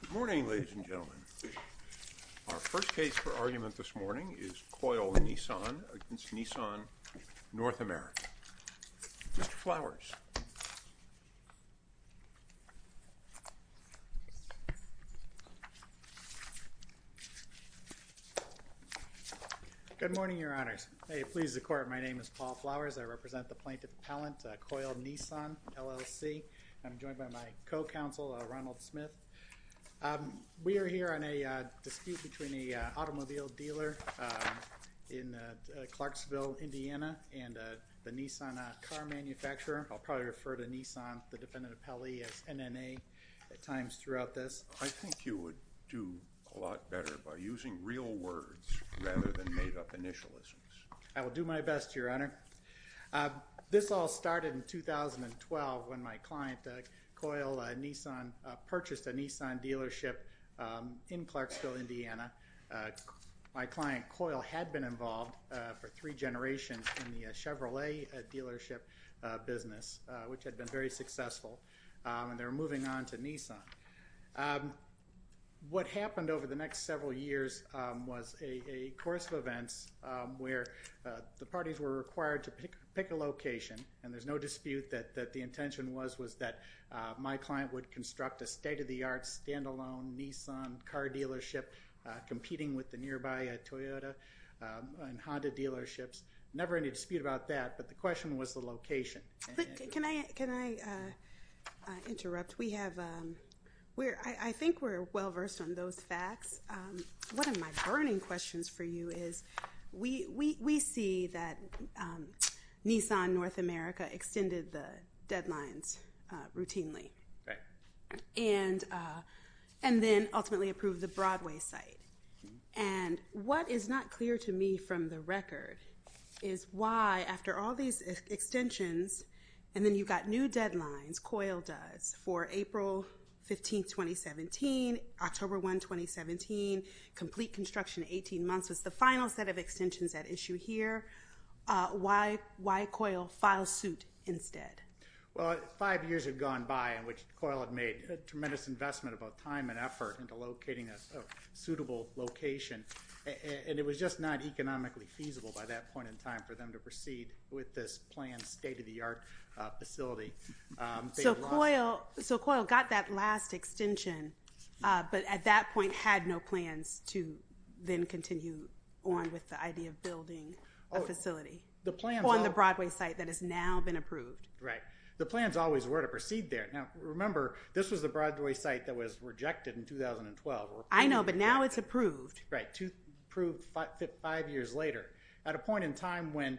Good morning, ladies and gentlemen. Our first case for argument this morning is Coyle Nissan v. Nissan North America. Mr. Flowers. Good morning, Your Honors. May it please the Court, my name is Paul Flowers. I represent the plaintiff appellant, Coyle Nissan, LLC. I'm joined by my co-counsel, Ronald Smith. We are here on a dispute between an automobile dealer in Clarksville, Indiana and the Nissan car manufacturer. I'll probably refer to Nissan, the defendant appellee, as NNA at times throughout this. I think you would do a lot better by using real words rather than made-up initialisms. I will do my best, Your Honor. This all started in 2012 when my client, Coyle Nissan, purchased a Nissan dealership in Clarksville, Indiana. My client, Coyle, had been involved for three generations in the Chevrolet dealership business, which had been very successful, and they were moving on to Nissan. What happened over the next several years was a course of events where the parties were required to pick a location, and there's no dispute that the intention was that my client would construct a state-of-the-art, stand-alone Nissan car dealership competing with the nearby Toyota and Honda dealerships. Never any dispute about that, but the question was the location. Can I interrupt? I think we're well-versed on those facts. One of my burning questions for you is we see that Nissan North America extended the deadlines routinely and then ultimately approved the Broadway site. And what is not clear to me from the record is why, after all these extensions, and then you've got new deadlines, Coyle does, for April 15, 2017, October 1, 2017, complete construction in 18 months was the final set of extensions at issue here. Why Coyle file suit instead? Well, five years had gone by in which Coyle had made a tremendous investment of both time and effort into locating a suitable location, and it was just not economically feasible by that point in time for them to proceed with this planned state-of-the-art facility. So Coyle got that last extension, but at that point had no plans to then continue on with the idea of building a facility? On the Broadway site that has now been approved. Right. The plans always were to proceed there. Now, remember, this was the Broadway site that was rejected in 2012. I know, but now it's approved. Right, approved five years later at a point in time when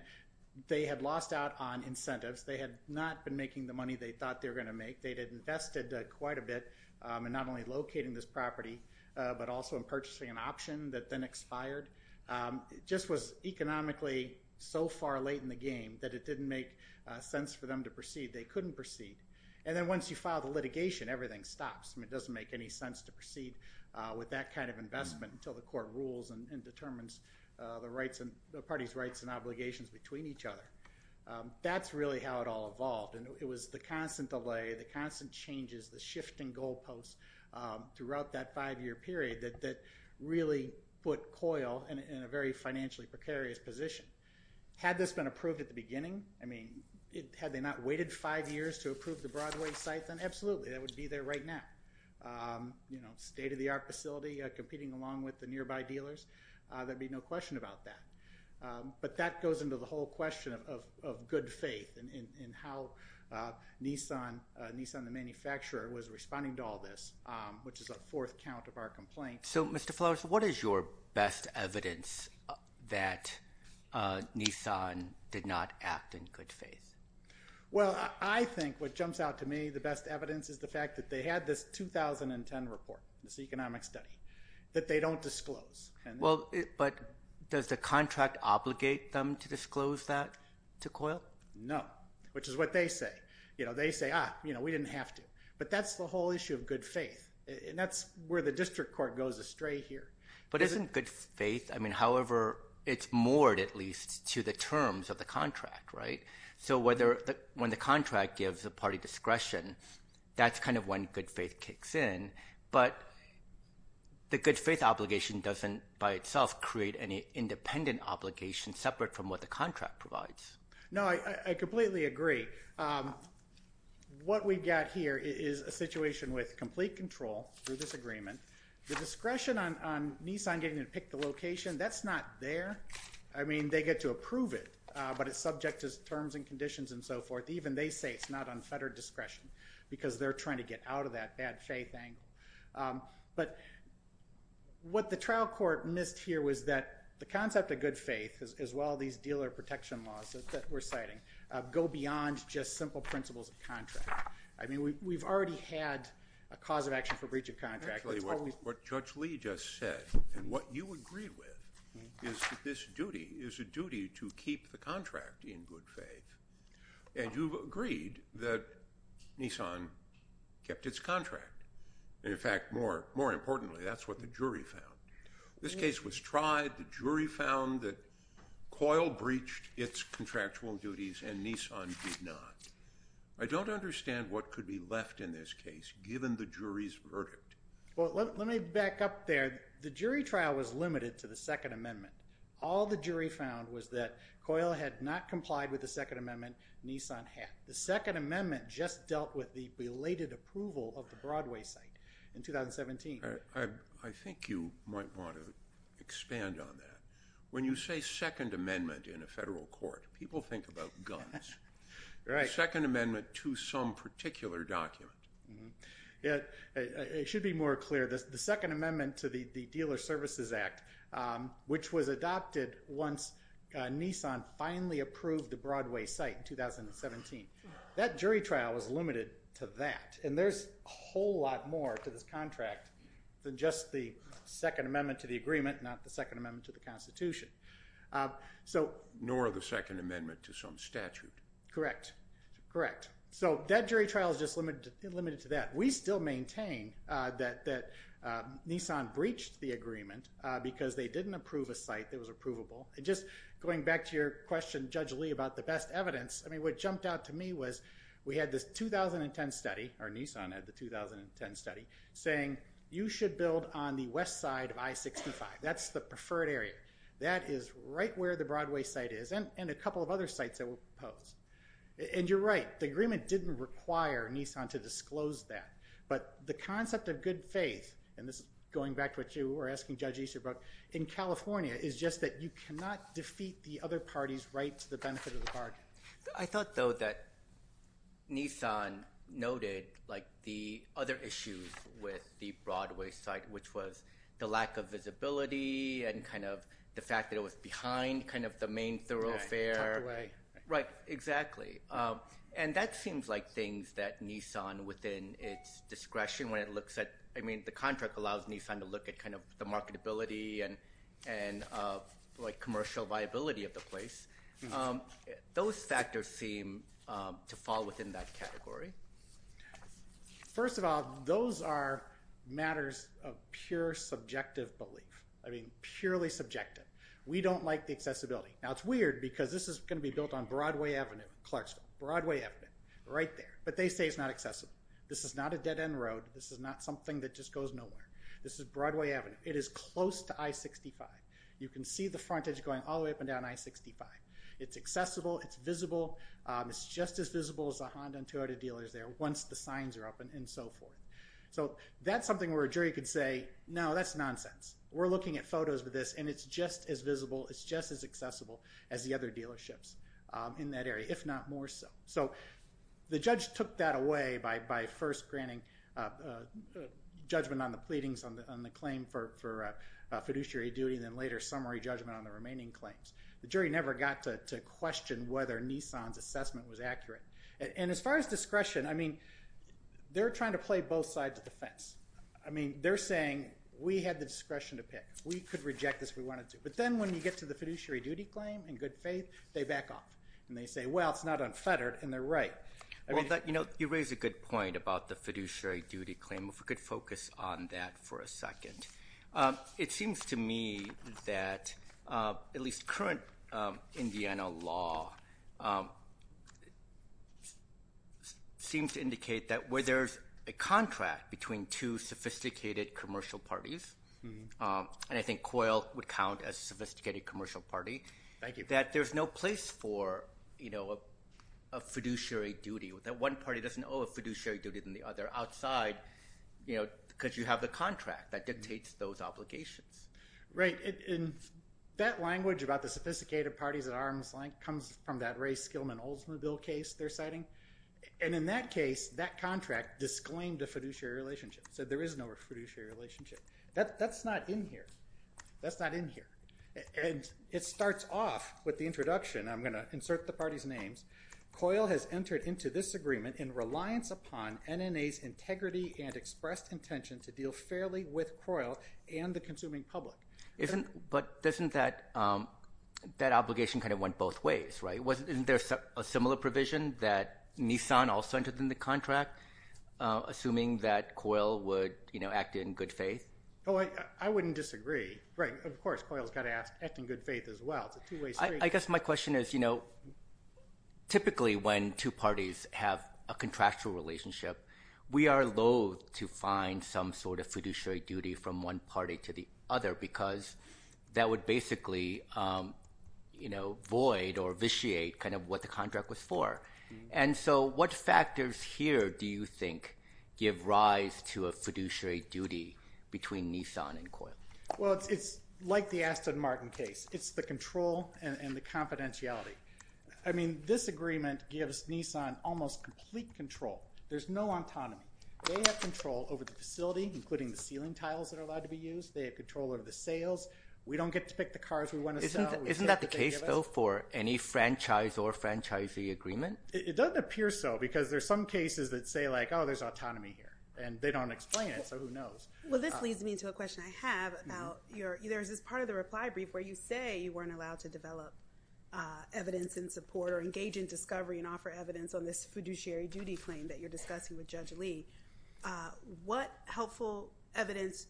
they had lost out on incentives. They had not been making the money they thought they were going to make. They had invested quite a bit in not only locating this property, but also in purchasing an option that then expired. It just was economically so far late in the game that it didn't make sense for them to proceed. They couldn't proceed. And then once you file the litigation, everything stops. It doesn't make any sense to proceed with that kind of investment until the court rules and determines the party's rights and obligations between each other. That's really how it all evolved, and it was the constant delay, the constant changes, the shifting goalposts throughout that five-year period that really put Coyle in a very financially precarious position. Had this been approved at the beginning, I mean, had they not waited five years to approve the Broadway site, then absolutely that would be there right now, state-of-the-art facility competing along with the nearby dealers. There would be no question about that. But that goes into the whole question of good faith and how Nissan, the manufacturer, was responding to all this, which is a fourth count of our complaints. So, Mr. Flowers, what is your best evidence that Nissan did not act in good faith? Well, I think what jumps out to me, the best evidence, is the fact that they had this 2010 report, this economic study, that they don't disclose. But does the contract obligate them to disclose that to Coyle? No, which is what they say. They say, ah, we didn't have to. But that's the whole issue of good faith. And that's where the district court goes astray here. But isn't good faith, I mean, however, it's moored at least to the terms of the contract, right? So when the contract gives a party discretion, that's kind of when good faith kicks in. But the good faith obligation doesn't by itself create any independent obligation separate from what the contract provides. No, I completely agree. What we've got here is a situation with complete control through this agreement. The discretion on Nissan getting to pick the location, that's not there. I mean, they get to approve it, but it's subject to terms and conditions and so forth. Even they say it's not on federal discretion because they're trying to get out of that bad faith angle. But what the trial court missed here was that the concept of good faith, as well as these dealer protection laws that we're citing, go beyond just simple principles of contract. I mean, we've already had a cause of action for breach of contract. What Judge Lee just said and what you agree with is that this duty is a duty to keep the contract in good faith. And you've agreed that Nissan kept its contract. In fact, more importantly, that's what the jury found. This case was tried. The jury found that Coyle breached its contractual duties and Nissan did not. I don't understand what could be left in this case, given the jury's verdict. Well, let me back up there. The jury trial was limited to the Second Amendment. All the jury found was that Coyle had not complied with the Second Amendment, Nissan had. The Second Amendment just dealt with the belated approval of the Broadway site in 2017. I think you might want to expand on that. When you say Second Amendment in a federal court, people think about guns. Right. The Second Amendment to some particular document. It should be more clear. The Second Amendment to the Dealer Services Act, which was adopted once Nissan finally approved the Broadway site in 2017, that jury trial was limited to that. And there's a whole lot more to this contract than just the Second Amendment to the agreement, not the Second Amendment to the Constitution. Nor the Second Amendment to some statute. Correct. Correct. So that jury trial is just limited to that. We still maintain that Nissan breached the agreement because they didn't approve a site that was approvable. And just going back to your question, Judge Lee, about the best evidence, I mean what jumped out to me was we had this 2010 study, or Nissan had the 2010 study, saying you should build on the west side of I-65. That's the preferred area. That is right where the Broadway site is and a couple of other sites that were proposed. And you're right. The agreement didn't require Nissan to disclose that. But the concept of good faith, and this is going back to what you were asking Judge Easterbrook, in California is just that you cannot defeat the other party's right to the benefit of the bargain. I thought, though, that Nissan noted, like, the other issues with the Broadway site, which was the lack of visibility and kind of the fact that it was behind kind of the main thoroughfare. Tucked away. Right, exactly. And that seems like things that Nissan, within its discretion when it looks at, I mean, I think the contract allows Nissan to look at kind of the marketability and, like, commercial viability of the place. Those factors seem to fall within that category. First of all, those are matters of pure subjective belief. I mean, purely subjective. We don't like the accessibility. Now, it's weird because this is going to be built on Broadway Avenue, Clarksville, Broadway Avenue, right there. But they say it's not accessible. This is not a dead end road. This is not something that just goes nowhere. This is Broadway Avenue. It is close to I-65. You can see the frontage going all the way up and down I-65. It's accessible. It's visible. It's just as visible as the Honda and Toyota dealers there once the signs are up and so forth. So that's something where a jury could say, no, that's nonsense. We're looking at photos of this, and it's just as visible, it's just as accessible as the other dealerships in that area, if not more so. So the judge took that away by first granting judgment on the pleadings on the claim for fiduciary duty, and then later summary judgment on the remaining claims. The jury never got to question whether Nissan's assessment was accurate. And as far as discretion, I mean, they're trying to play both sides of the fence. I mean, they're saying we had the discretion to pick. We could reject this if we wanted to. But then when you get to the fiduciary duty claim in good faith, they back off. And they say, well, it's not unfettered, and they're right. You raise a good point about the fiduciary duty claim. If we could focus on that for a second. It seems to me that at least current Indiana law seems to indicate that where there's a contract between two sophisticated commercial parties, and I think COIL would count as a sophisticated commercial party, that there's no place for a fiduciary duty. That one party doesn't owe a fiduciary duty to the other outside because you have the contract that dictates those obligations. Right. And that language about the sophisticated parties at arm's length comes from that Ray Skillman Oldsmobile case they're citing. And in that case, that contract disclaimed a fiduciary relationship, said there is no fiduciary relationship. That's not in here. That's not in here. And it starts off with the introduction. I'm going to insert the parties' names. COIL has entered into this agreement in reliance upon NNA's integrity and expressed intention to deal fairly with COIL and the consuming public. But doesn't that obligation kind of went both ways, right? Isn't there a similar provision that Nissan also entered in the contract, assuming that COIL would act in good faith? Oh, I wouldn't disagree. Right. Of course, COIL has got to act in good faith as well. It's a two-way street. I guess my question is, you know, typically when two parties have a contractual relationship, we are loath to find some sort of fiduciary duty from one party to the other because that would basically void or vitiate kind of what the contract was for. And so what factors here do you think give rise to a fiduciary duty between Nissan and COIL? Well, it's like the Aston Martin case. It's the control and the confidentiality. I mean, this agreement gives Nissan almost complete control. There's no autonomy. They have control over the facility, including the ceiling tiles that are allowed to be used. They have control over the sales. We don't get to pick the cars we want to sell. Isn't that the case, though, for any franchise or franchisee agreement? It doesn't appear so because there's some cases that say, like, oh, there's autonomy here. And they don't explain it, so who knows? Well, this leads me to a question I have about your – there's this part of the reply brief where you say you weren't allowed to develop evidence and support or engage in discovery and offer evidence on this fiduciary duty claim that you're discussing with Judge Lee. What helpful evidence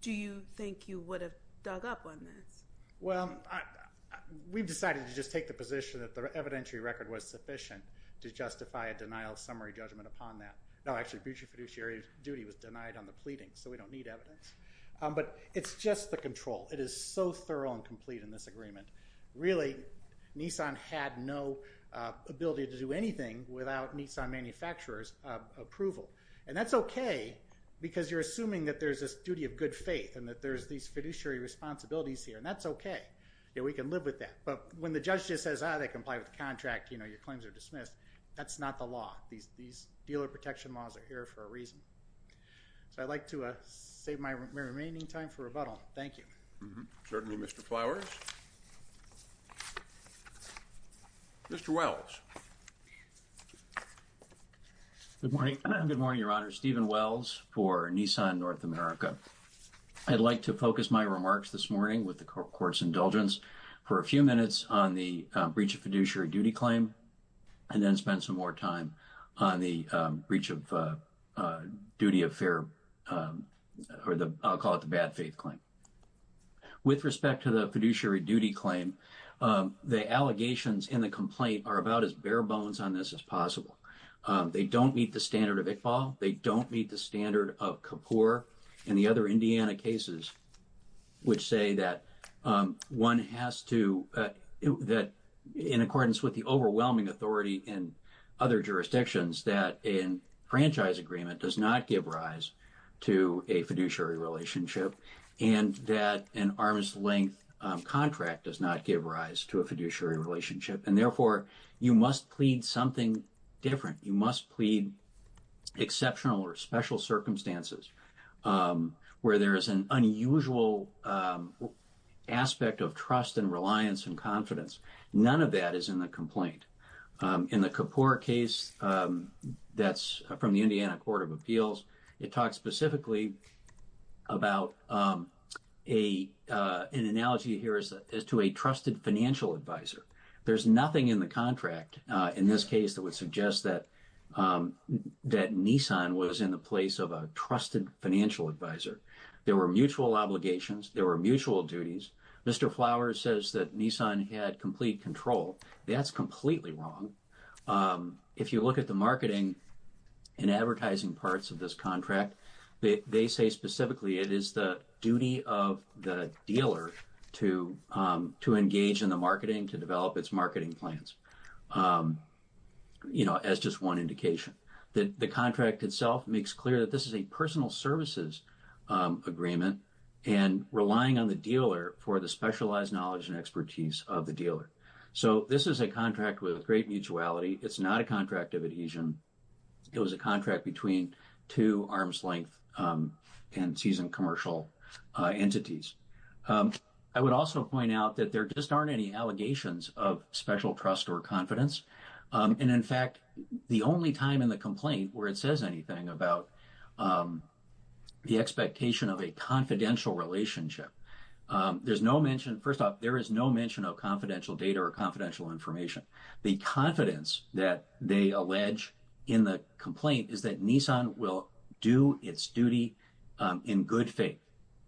do you think you would have dug up on this? Well, we've decided to just take the position that the evidentiary record was sufficient to justify a denial of summary judgment upon that. No, actually, fiduciary duty was denied on the pleading, so we don't need evidence. But it's just the control. It is so thorough and complete in this agreement. Really, Nissan had no ability to do anything without Nissan manufacturers' approval. And that's okay because you're assuming that there's this duty of good faith and that there's these fiduciary responsibilities here, and that's okay. We can live with that. But when the judge just says, ah, they comply with the contract, you know, your claims are dismissed, that's not the law. These dealer protection laws are here for a reason. So I'd like to save my remaining time for rebuttal. Thank you. Certainly, Mr. Flowers. Mr. Wells. Good morning. Good morning, Your Honor. Stephen Wells for Nissan North America. I'd like to focus my remarks this morning with the court's indulgence for a few minutes on the breach of fiduciary duty claim and then spend some more time on the breach of duty of fair or I'll call it the bad faith claim. With respect to the fiduciary duty claim, the allegations in the complaint are about as bare bones on this as possible. They don't meet the standard of Iqbal. They don't meet the standard of Kapoor and the other Indiana cases, which say that one has to, that in accordance with the overwhelming authority in other jurisdictions, that a franchise agreement does not give rise to a fiduciary relationship and that an arm's length contract does not give rise to a fiduciary relationship. And therefore, you must plead something different. You must plead exceptional or special circumstances where there is an unusual aspect of trust and reliance and confidence. None of that is in the complaint. In the Kapoor case that's from the Indiana Court of Appeals, it talks specifically about an analogy here as to a trusted financial advisor. There's nothing in the contract in this case that would suggest that Nissan was in the place of a trusted financial advisor. There were mutual obligations. There were mutual duties. Mr. Flowers says that Nissan had complete control. That's completely wrong. If you look at the marketing and advertising parts of this contract, they say specifically it is the duty of the dealer to engage in the marketing, to develop its marketing plans, you know, as just one indication. The contract itself makes clear that this is a personal services agreement and relying on the dealer for the specialized knowledge and expertise of the dealer. So this is a contract with great mutuality. It's not a contract of adhesion. It was a contract between two arm's length and seasoned commercial entities. I would also point out that there just aren't any allegations of special trust or confidence. And, in fact, the only time in the complaint where it says anything about the expectation of a confidential relationship, there's no mention. First off, there is no mention of confidential data or confidential information. The confidence that they allege in the complaint is that Nissan will do its duty in good faith.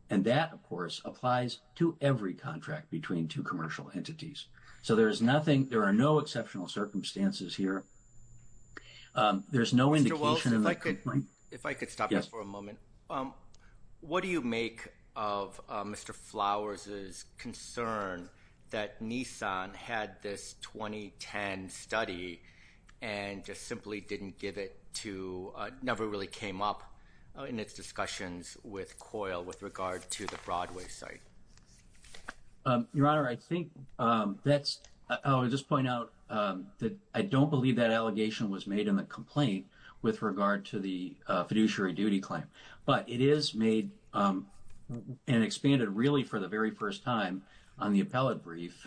And that, of course, applies to every contract between two commercial entities. So there is nothing, there are no exceptional circumstances here. If I could stop you for a moment. What do you make of Mr. Flowers' concern that Nissan had this 2010 study and just simply didn't give it to, never really came up in its discussions with COIL with regard to the Broadway site? Your Honor, I think that's, I would just point out that I don't believe that allegation was made in the complaint with regard to the fiduciary duty claim. But it is made and expanded really for the very first time on the appellate brief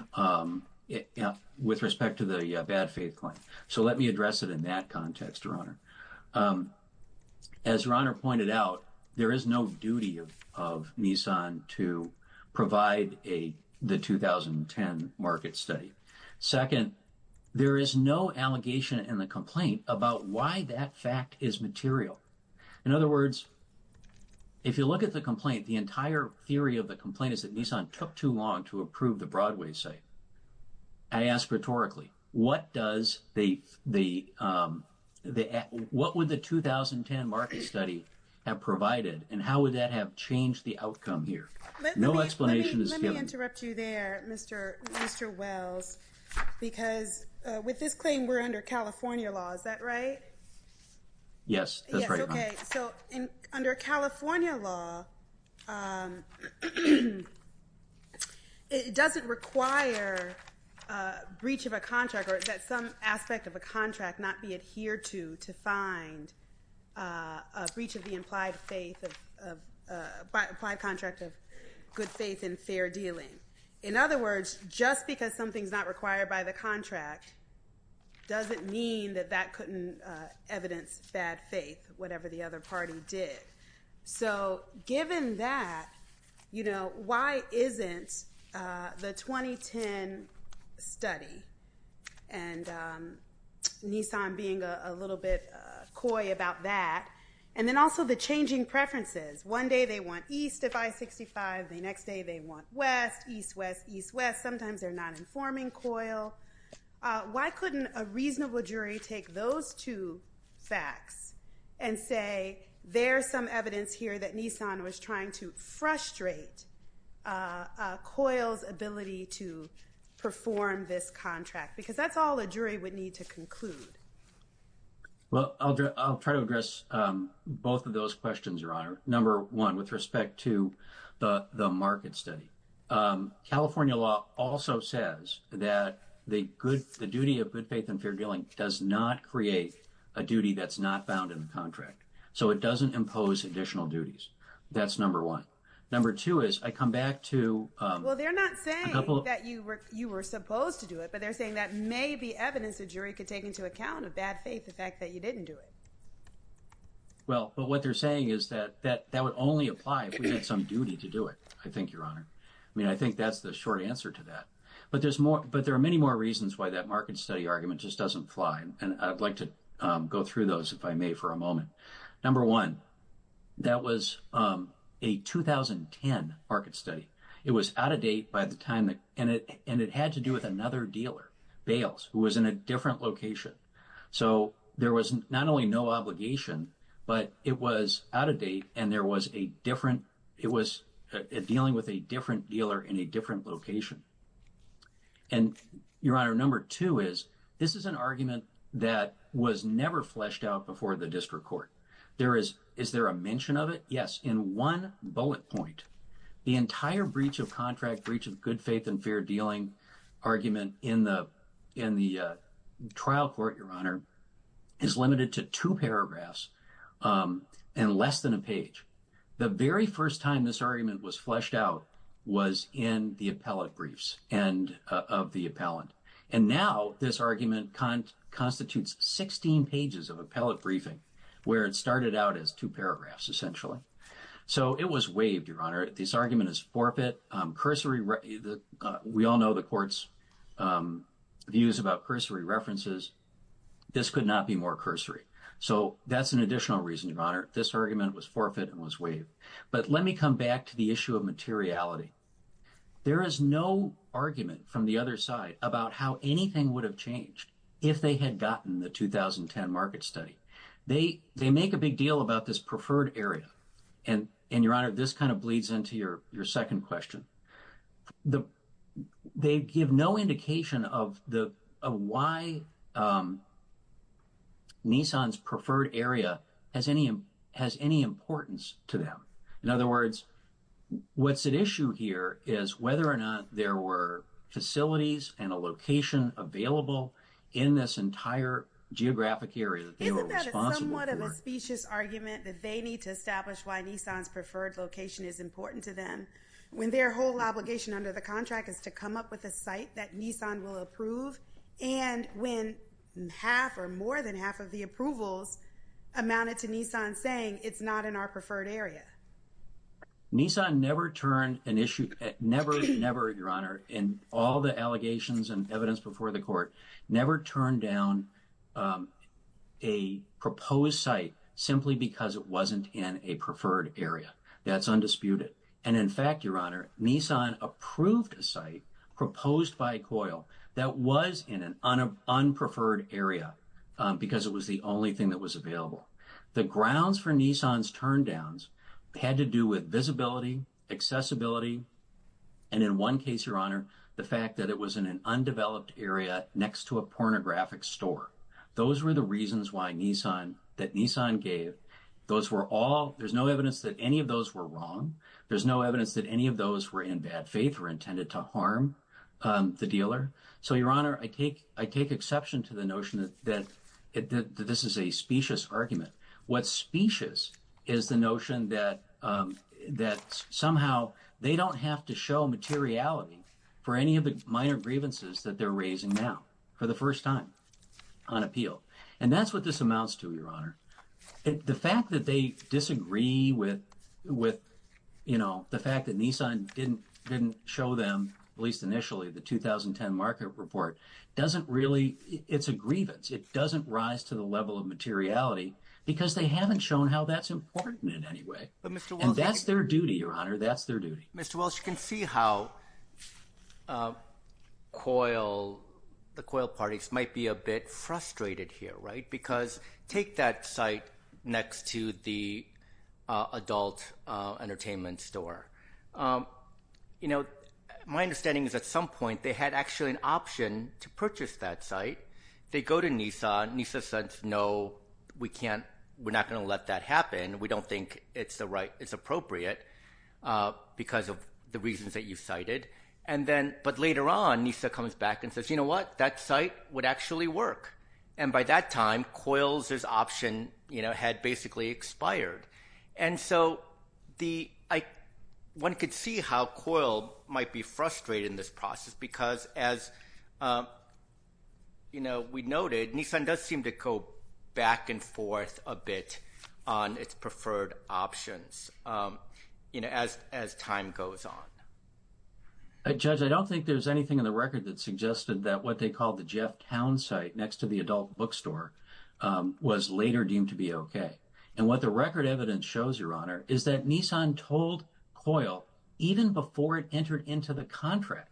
with respect to the bad faith claim. So let me address it in that context, Your Honor. As Your Honor pointed out, there is no duty of Nissan to provide the 2010 market study. Second, there is no allegation in the complaint about why that fact is material. In other words, if you look at the complaint, the entire theory of the complaint is that Nissan took too long to approve the Broadway site. I ask rhetorically, what does the, what would the 2010 market study have provided and how would that have changed the outcome here? No explanation is given. Let me interrupt you there, Mr. Wells, because with this claim we're under California law, is that right? Okay, so under California law, it doesn't require breach of a contract or that some aspect of a contract not be adhered to, to find a breach of the implied faith of, implied contract of good faith and fair dealing. In other words, just because something's not required by the contract doesn't mean that that couldn't evidence bad faith, whatever the other party did. So given that, you know, why isn't the 2010 study, and Nissan being a little bit coy about that, and then also the changing preferences, one day they want east of I-65, the next day they want west, east-west, east-west. Sometimes they're not informing COIL. Why couldn't a reasonable jury take those two facts and say, there's some evidence here that Nissan was trying to frustrate COIL's ability to perform this contract? Because that's all a jury would need to conclude. Well, I'll try to address both of those questions, Your Honor. Number one, with respect to the market study. California law also says that the duty of good faith and fair dealing does not create a duty that's not bound in the contract. So it doesn't impose additional duties. That's number one. Number two is, I come back to a couple of- Well, but what they're saying is that that would only apply if we had some duty to do it, I think, Your Honor. I mean, I think that's the short answer to that. But there are many more reasons why that market study argument just doesn't fly, and I'd like to go through those, if I may, for a moment. Number one, that was a 2010 market study. It was out of date by the time that- and it had to do with another dealer, Bales, who was in a different location. So there was not only no obligation, but it was out of date and there was a different- it was dealing with a different dealer in a different location. And, Your Honor, number two is, this is an argument that was never fleshed out before the district court. There is- is there a mention of it? Yes, in one bullet point. The entire breach of contract, breach of good faith and fair dealing argument in the trial court, Your Honor, is limited to two paragraphs and less than a page. The very first time this argument was fleshed out was in the appellate briefs of the appellant. And now this argument constitutes 16 pages of appellate briefing, where it started out as two paragraphs, essentially. So it was waived, Your Honor. This argument is forfeit. Cursory- we all know the court's views about cursory references. This could not be more cursory. So that's an additional reason, Your Honor. This argument was forfeit and was waived. But let me come back to the issue of materiality. There is no argument from the other side about how anything would have changed if they had gotten the 2010 market study. They make a big deal about this preferred area. And, Your Honor, this kind of bleeds into your second question. They give no indication of why Nissan's preferred area has any importance to them. In other words, what's at issue here is whether or not there were facilities and a location available in this entire geographic area that they were responsible for. Isn't that a somewhat of a specious argument that they need to establish why Nissan's preferred location is important to them, when their whole obligation under the contract is to come up with a site that Nissan will approve, and when half or more than half of the approvals amounted to Nissan saying it's not in our preferred area? Nissan never turned an issue- never, Your Honor, in all the allegations and evidence before the court, never turned down a proposed site simply because it wasn't in a preferred area. That's undisputed. And, in fact, Your Honor, Nissan approved a site proposed by COIL that was in an unpreferred area, because it was the only thing that was available. The grounds for Nissan's turndowns had to do with visibility, accessibility, and in one case, Your Honor, the fact that it was in an undeveloped area next to a pornographic store. Those were the reasons why Nissan- that Nissan gave. There's no evidence that any of those were wrong. There's no evidence that any of those were in bad faith or intended to harm the dealer. So, Your Honor, I take exception to the notion that this is a specious argument. What's specious is the notion that somehow they don't have to show materiality for any of the minor grievances that they're raising now, for the first time, on appeal. And that's what this amounts to, Your Honor. The fact that they disagree with, you know, the fact that Nissan didn't show them, at least initially, the 2010 market report, doesn't really- it's a grievance. It doesn't rise to the level of materiality, because they haven't shown how that's important in any way. And that's their duty, Your Honor. That's their duty. Mr. Welch, you can see how COIL- the COIL parties might be a bit frustrated here, right? Because take that site next to the adult entertainment store. You know, my understanding is at some point they had actually an option to purchase that site. They go to Nissan. Nissan says, no, we can't- we're not going to let that happen. We don't think it's the right- it's appropriate because of the reasons that you cited. And then- but later on, Nissan comes back and says, you know what? That site would actually work. And by that time, COIL's option, you know, had basically expired. And so the- one could see how COIL might be frustrated in this process, because as, you know, we noted, Nissan does seem to go back and forth a bit on its preferred options, you know, as time goes on. Judge, I don't think there's anything in the record that suggested that what they called the Jeff Town site next to the adult bookstore was later deemed to be okay. And what the record evidence shows, Your Honor, is that Nissan told COIL even before it entered into the contract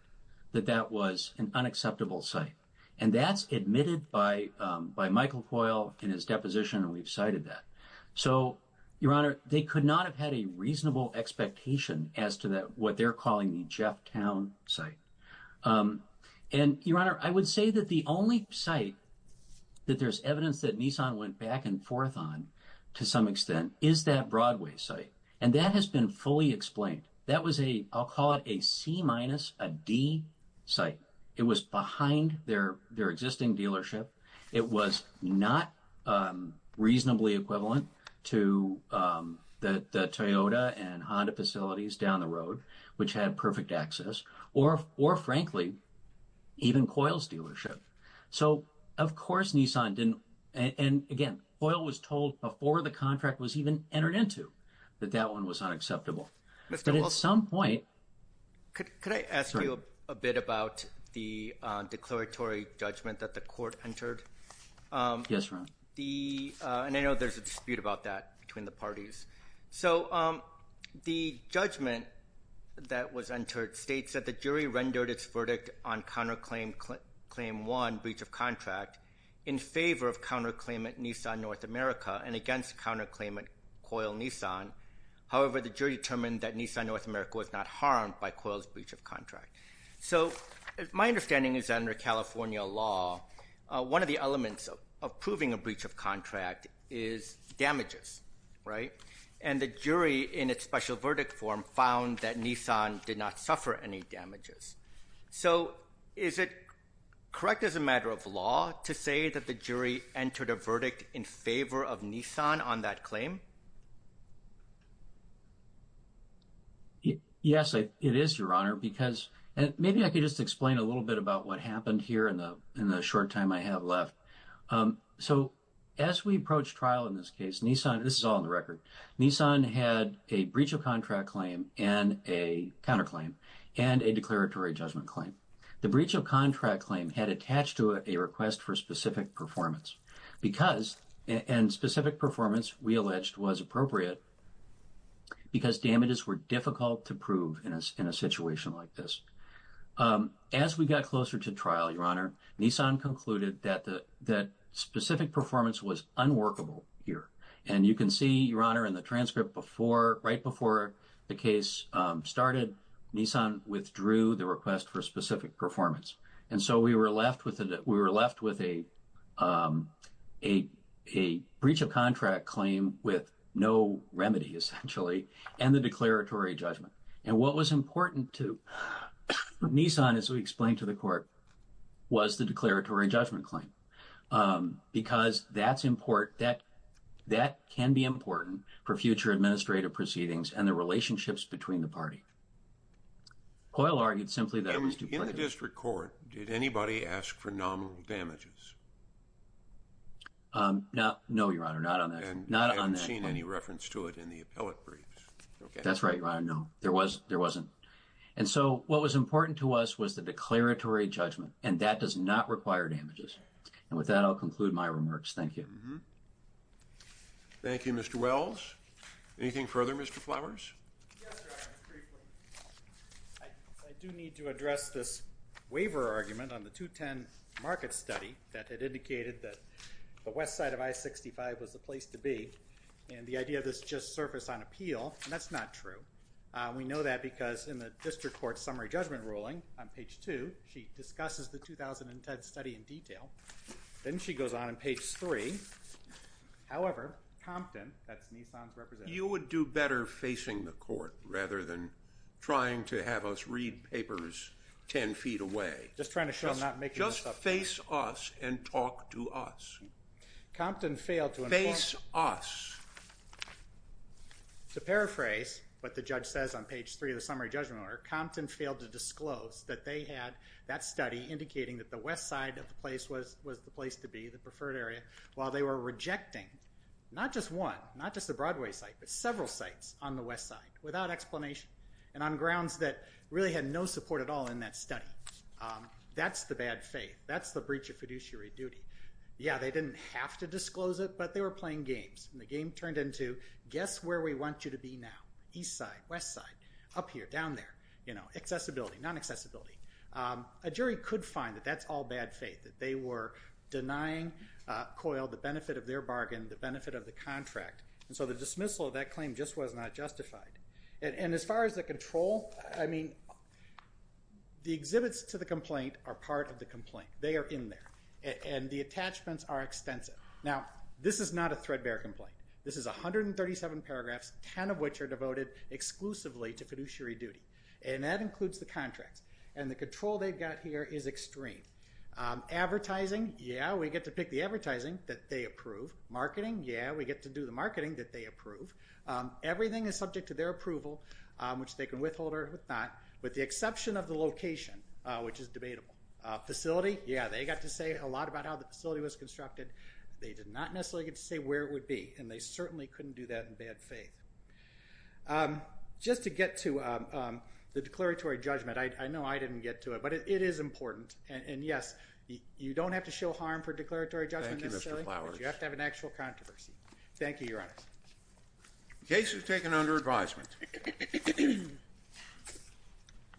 that that was an unacceptable site. And that's admitted by Michael COIL in his deposition, and we've cited that. So, Your Honor, they could not have had a reasonable expectation as to what they're calling the Jeff Town site. And, Your Honor, I would say that the only site that there's evidence that Nissan went back and forth on to some extent is that Broadway site. And that has been fully explained. That was a- I'll call it a C-minus, a D site. It was behind their existing dealership. It was not reasonably equivalent to the Toyota and Honda facilities down the road, which had perfect access, or, frankly, even COIL's dealership. So, of course, Nissan didn't- and, again, COIL was told before the contract was even entered into that that one was unacceptable. But at some point- Could I ask you a bit about the declaratory judgment that the court entered? Yes, Your Honor. And I know there's a dispute about that between the parties. So the judgment that was entered states that the jury rendered its verdict on counterclaim claim one, breach of contract, in favor of counterclaim at Nissan North America and against counterclaim at COIL Nissan. However, the jury determined that Nissan North America was not harmed by COIL's breach of contract. So my understanding is that under California law, one of the elements of proving a breach of contract is damages, right? And the jury, in its special verdict form, found that Nissan did not suffer any damages. So is it correct as a matter of law to say that the jury entered a verdict in favor of Nissan on that claim? Yes, it is, Your Honor, because- and maybe I could just explain a little bit about what happened here in the short time I have left. So as we approach trial in this case, Nissan- this is all on the record- Nissan had a breach of contract claim and a counterclaim and a declaratory judgment claim. The breach of contract claim had attached to it a request for specific performance because- and specific performance, we alleged, was appropriate because damages were difficult to prove in a situation like this. As we got closer to trial, Your Honor, Nissan concluded that specific performance was unworkable here. And you can see, Your Honor, in the transcript, right before the case started, Nissan withdrew the request for specific performance. And so we were left with a breach of contract claim with no remedy, essentially, and the declaratory judgment. And what was important to Nissan, as we explained to the court, was the declaratory judgment claim. Because that's important- that can be important for future administrative proceedings and the relationships between the party. Coyle argued simply that- In the district court, did anybody ask for nominal damages? No, Your Honor, not on that claim. And I haven't seen any reference to it in the appellate briefs. That's right, Your Honor, no. There wasn't. And so what was important to us was the declaratory judgment. And that does not require damages. And with that, I'll conclude my remarks. Thank you. Thank you, Mr. Wells. Anything further, Mr. Flowers? Yes, Your Honor, just briefly. I do need to address this waiver argument on the 210 market study that had indicated that the west side of I-65 was the place to be. And the idea of this just surfaced on appeal, and that's not true. We know that because in the district court summary judgment ruling on page 2, she discusses the 2010 study in detail. Then she goes on in page 3. However, Compton, that's Nissan's representative- You would do better facing the court rather than trying to have us read papers ten feet away. Just trying to show I'm not making this up. Just face us and talk to us. Compton failed to inform- Face us. To paraphrase what the judge says on page 3 of the summary judgment order, Compton failed to disclose that they had that study indicating that the west side of the place was the place to be, the preferred area, while they were rejecting not just one, not just the Broadway site, but several sites on the west side without explanation and on grounds that really had no support at all in that study. That's the bad faith. That's the breach of fiduciary duty. Yeah, they didn't have to disclose it, but they were playing games. The game turned into, guess where we want you to be now? East side, west side, up here, down there. Accessibility, non-accessibility. A jury could find that that's all bad faith, that they were denying COIL the benefit of their bargain, the benefit of the contract. The dismissal of that claim just was not justified. As far as the control, the exhibits to the complaint are part of the complaint. They are in there. The attachments are extensive. Now, this is not a threadbare complaint. This is 137 paragraphs, 10 of which are devoted exclusively to fiduciary duty, and that includes the contracts, and the control they've got here is extreme. Advertising, yeah, we get to pick the advertising that they approve. Marketing, yeah, we get to do the marketing that they approve. Everything is subject to their approval, which they can withhold or not, with the exception of the location, which is debatable. Facility, yeah, they got to say a lot about how the facility was constructed. They did not necessarily get to say where it would be, and they certainly couldn't do that in bad faith. Just to get to the declaratory judgment, I know I didn't get to it, but it is important. And, yes, you don't have to show harm for declaratory judgment necessarily. Thank you, Mr. Flowers. You have to have an actual controversy. Thank you, Your Honor. The case is taken under advisement.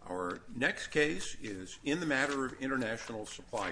Our next case is in the matter of international supply company.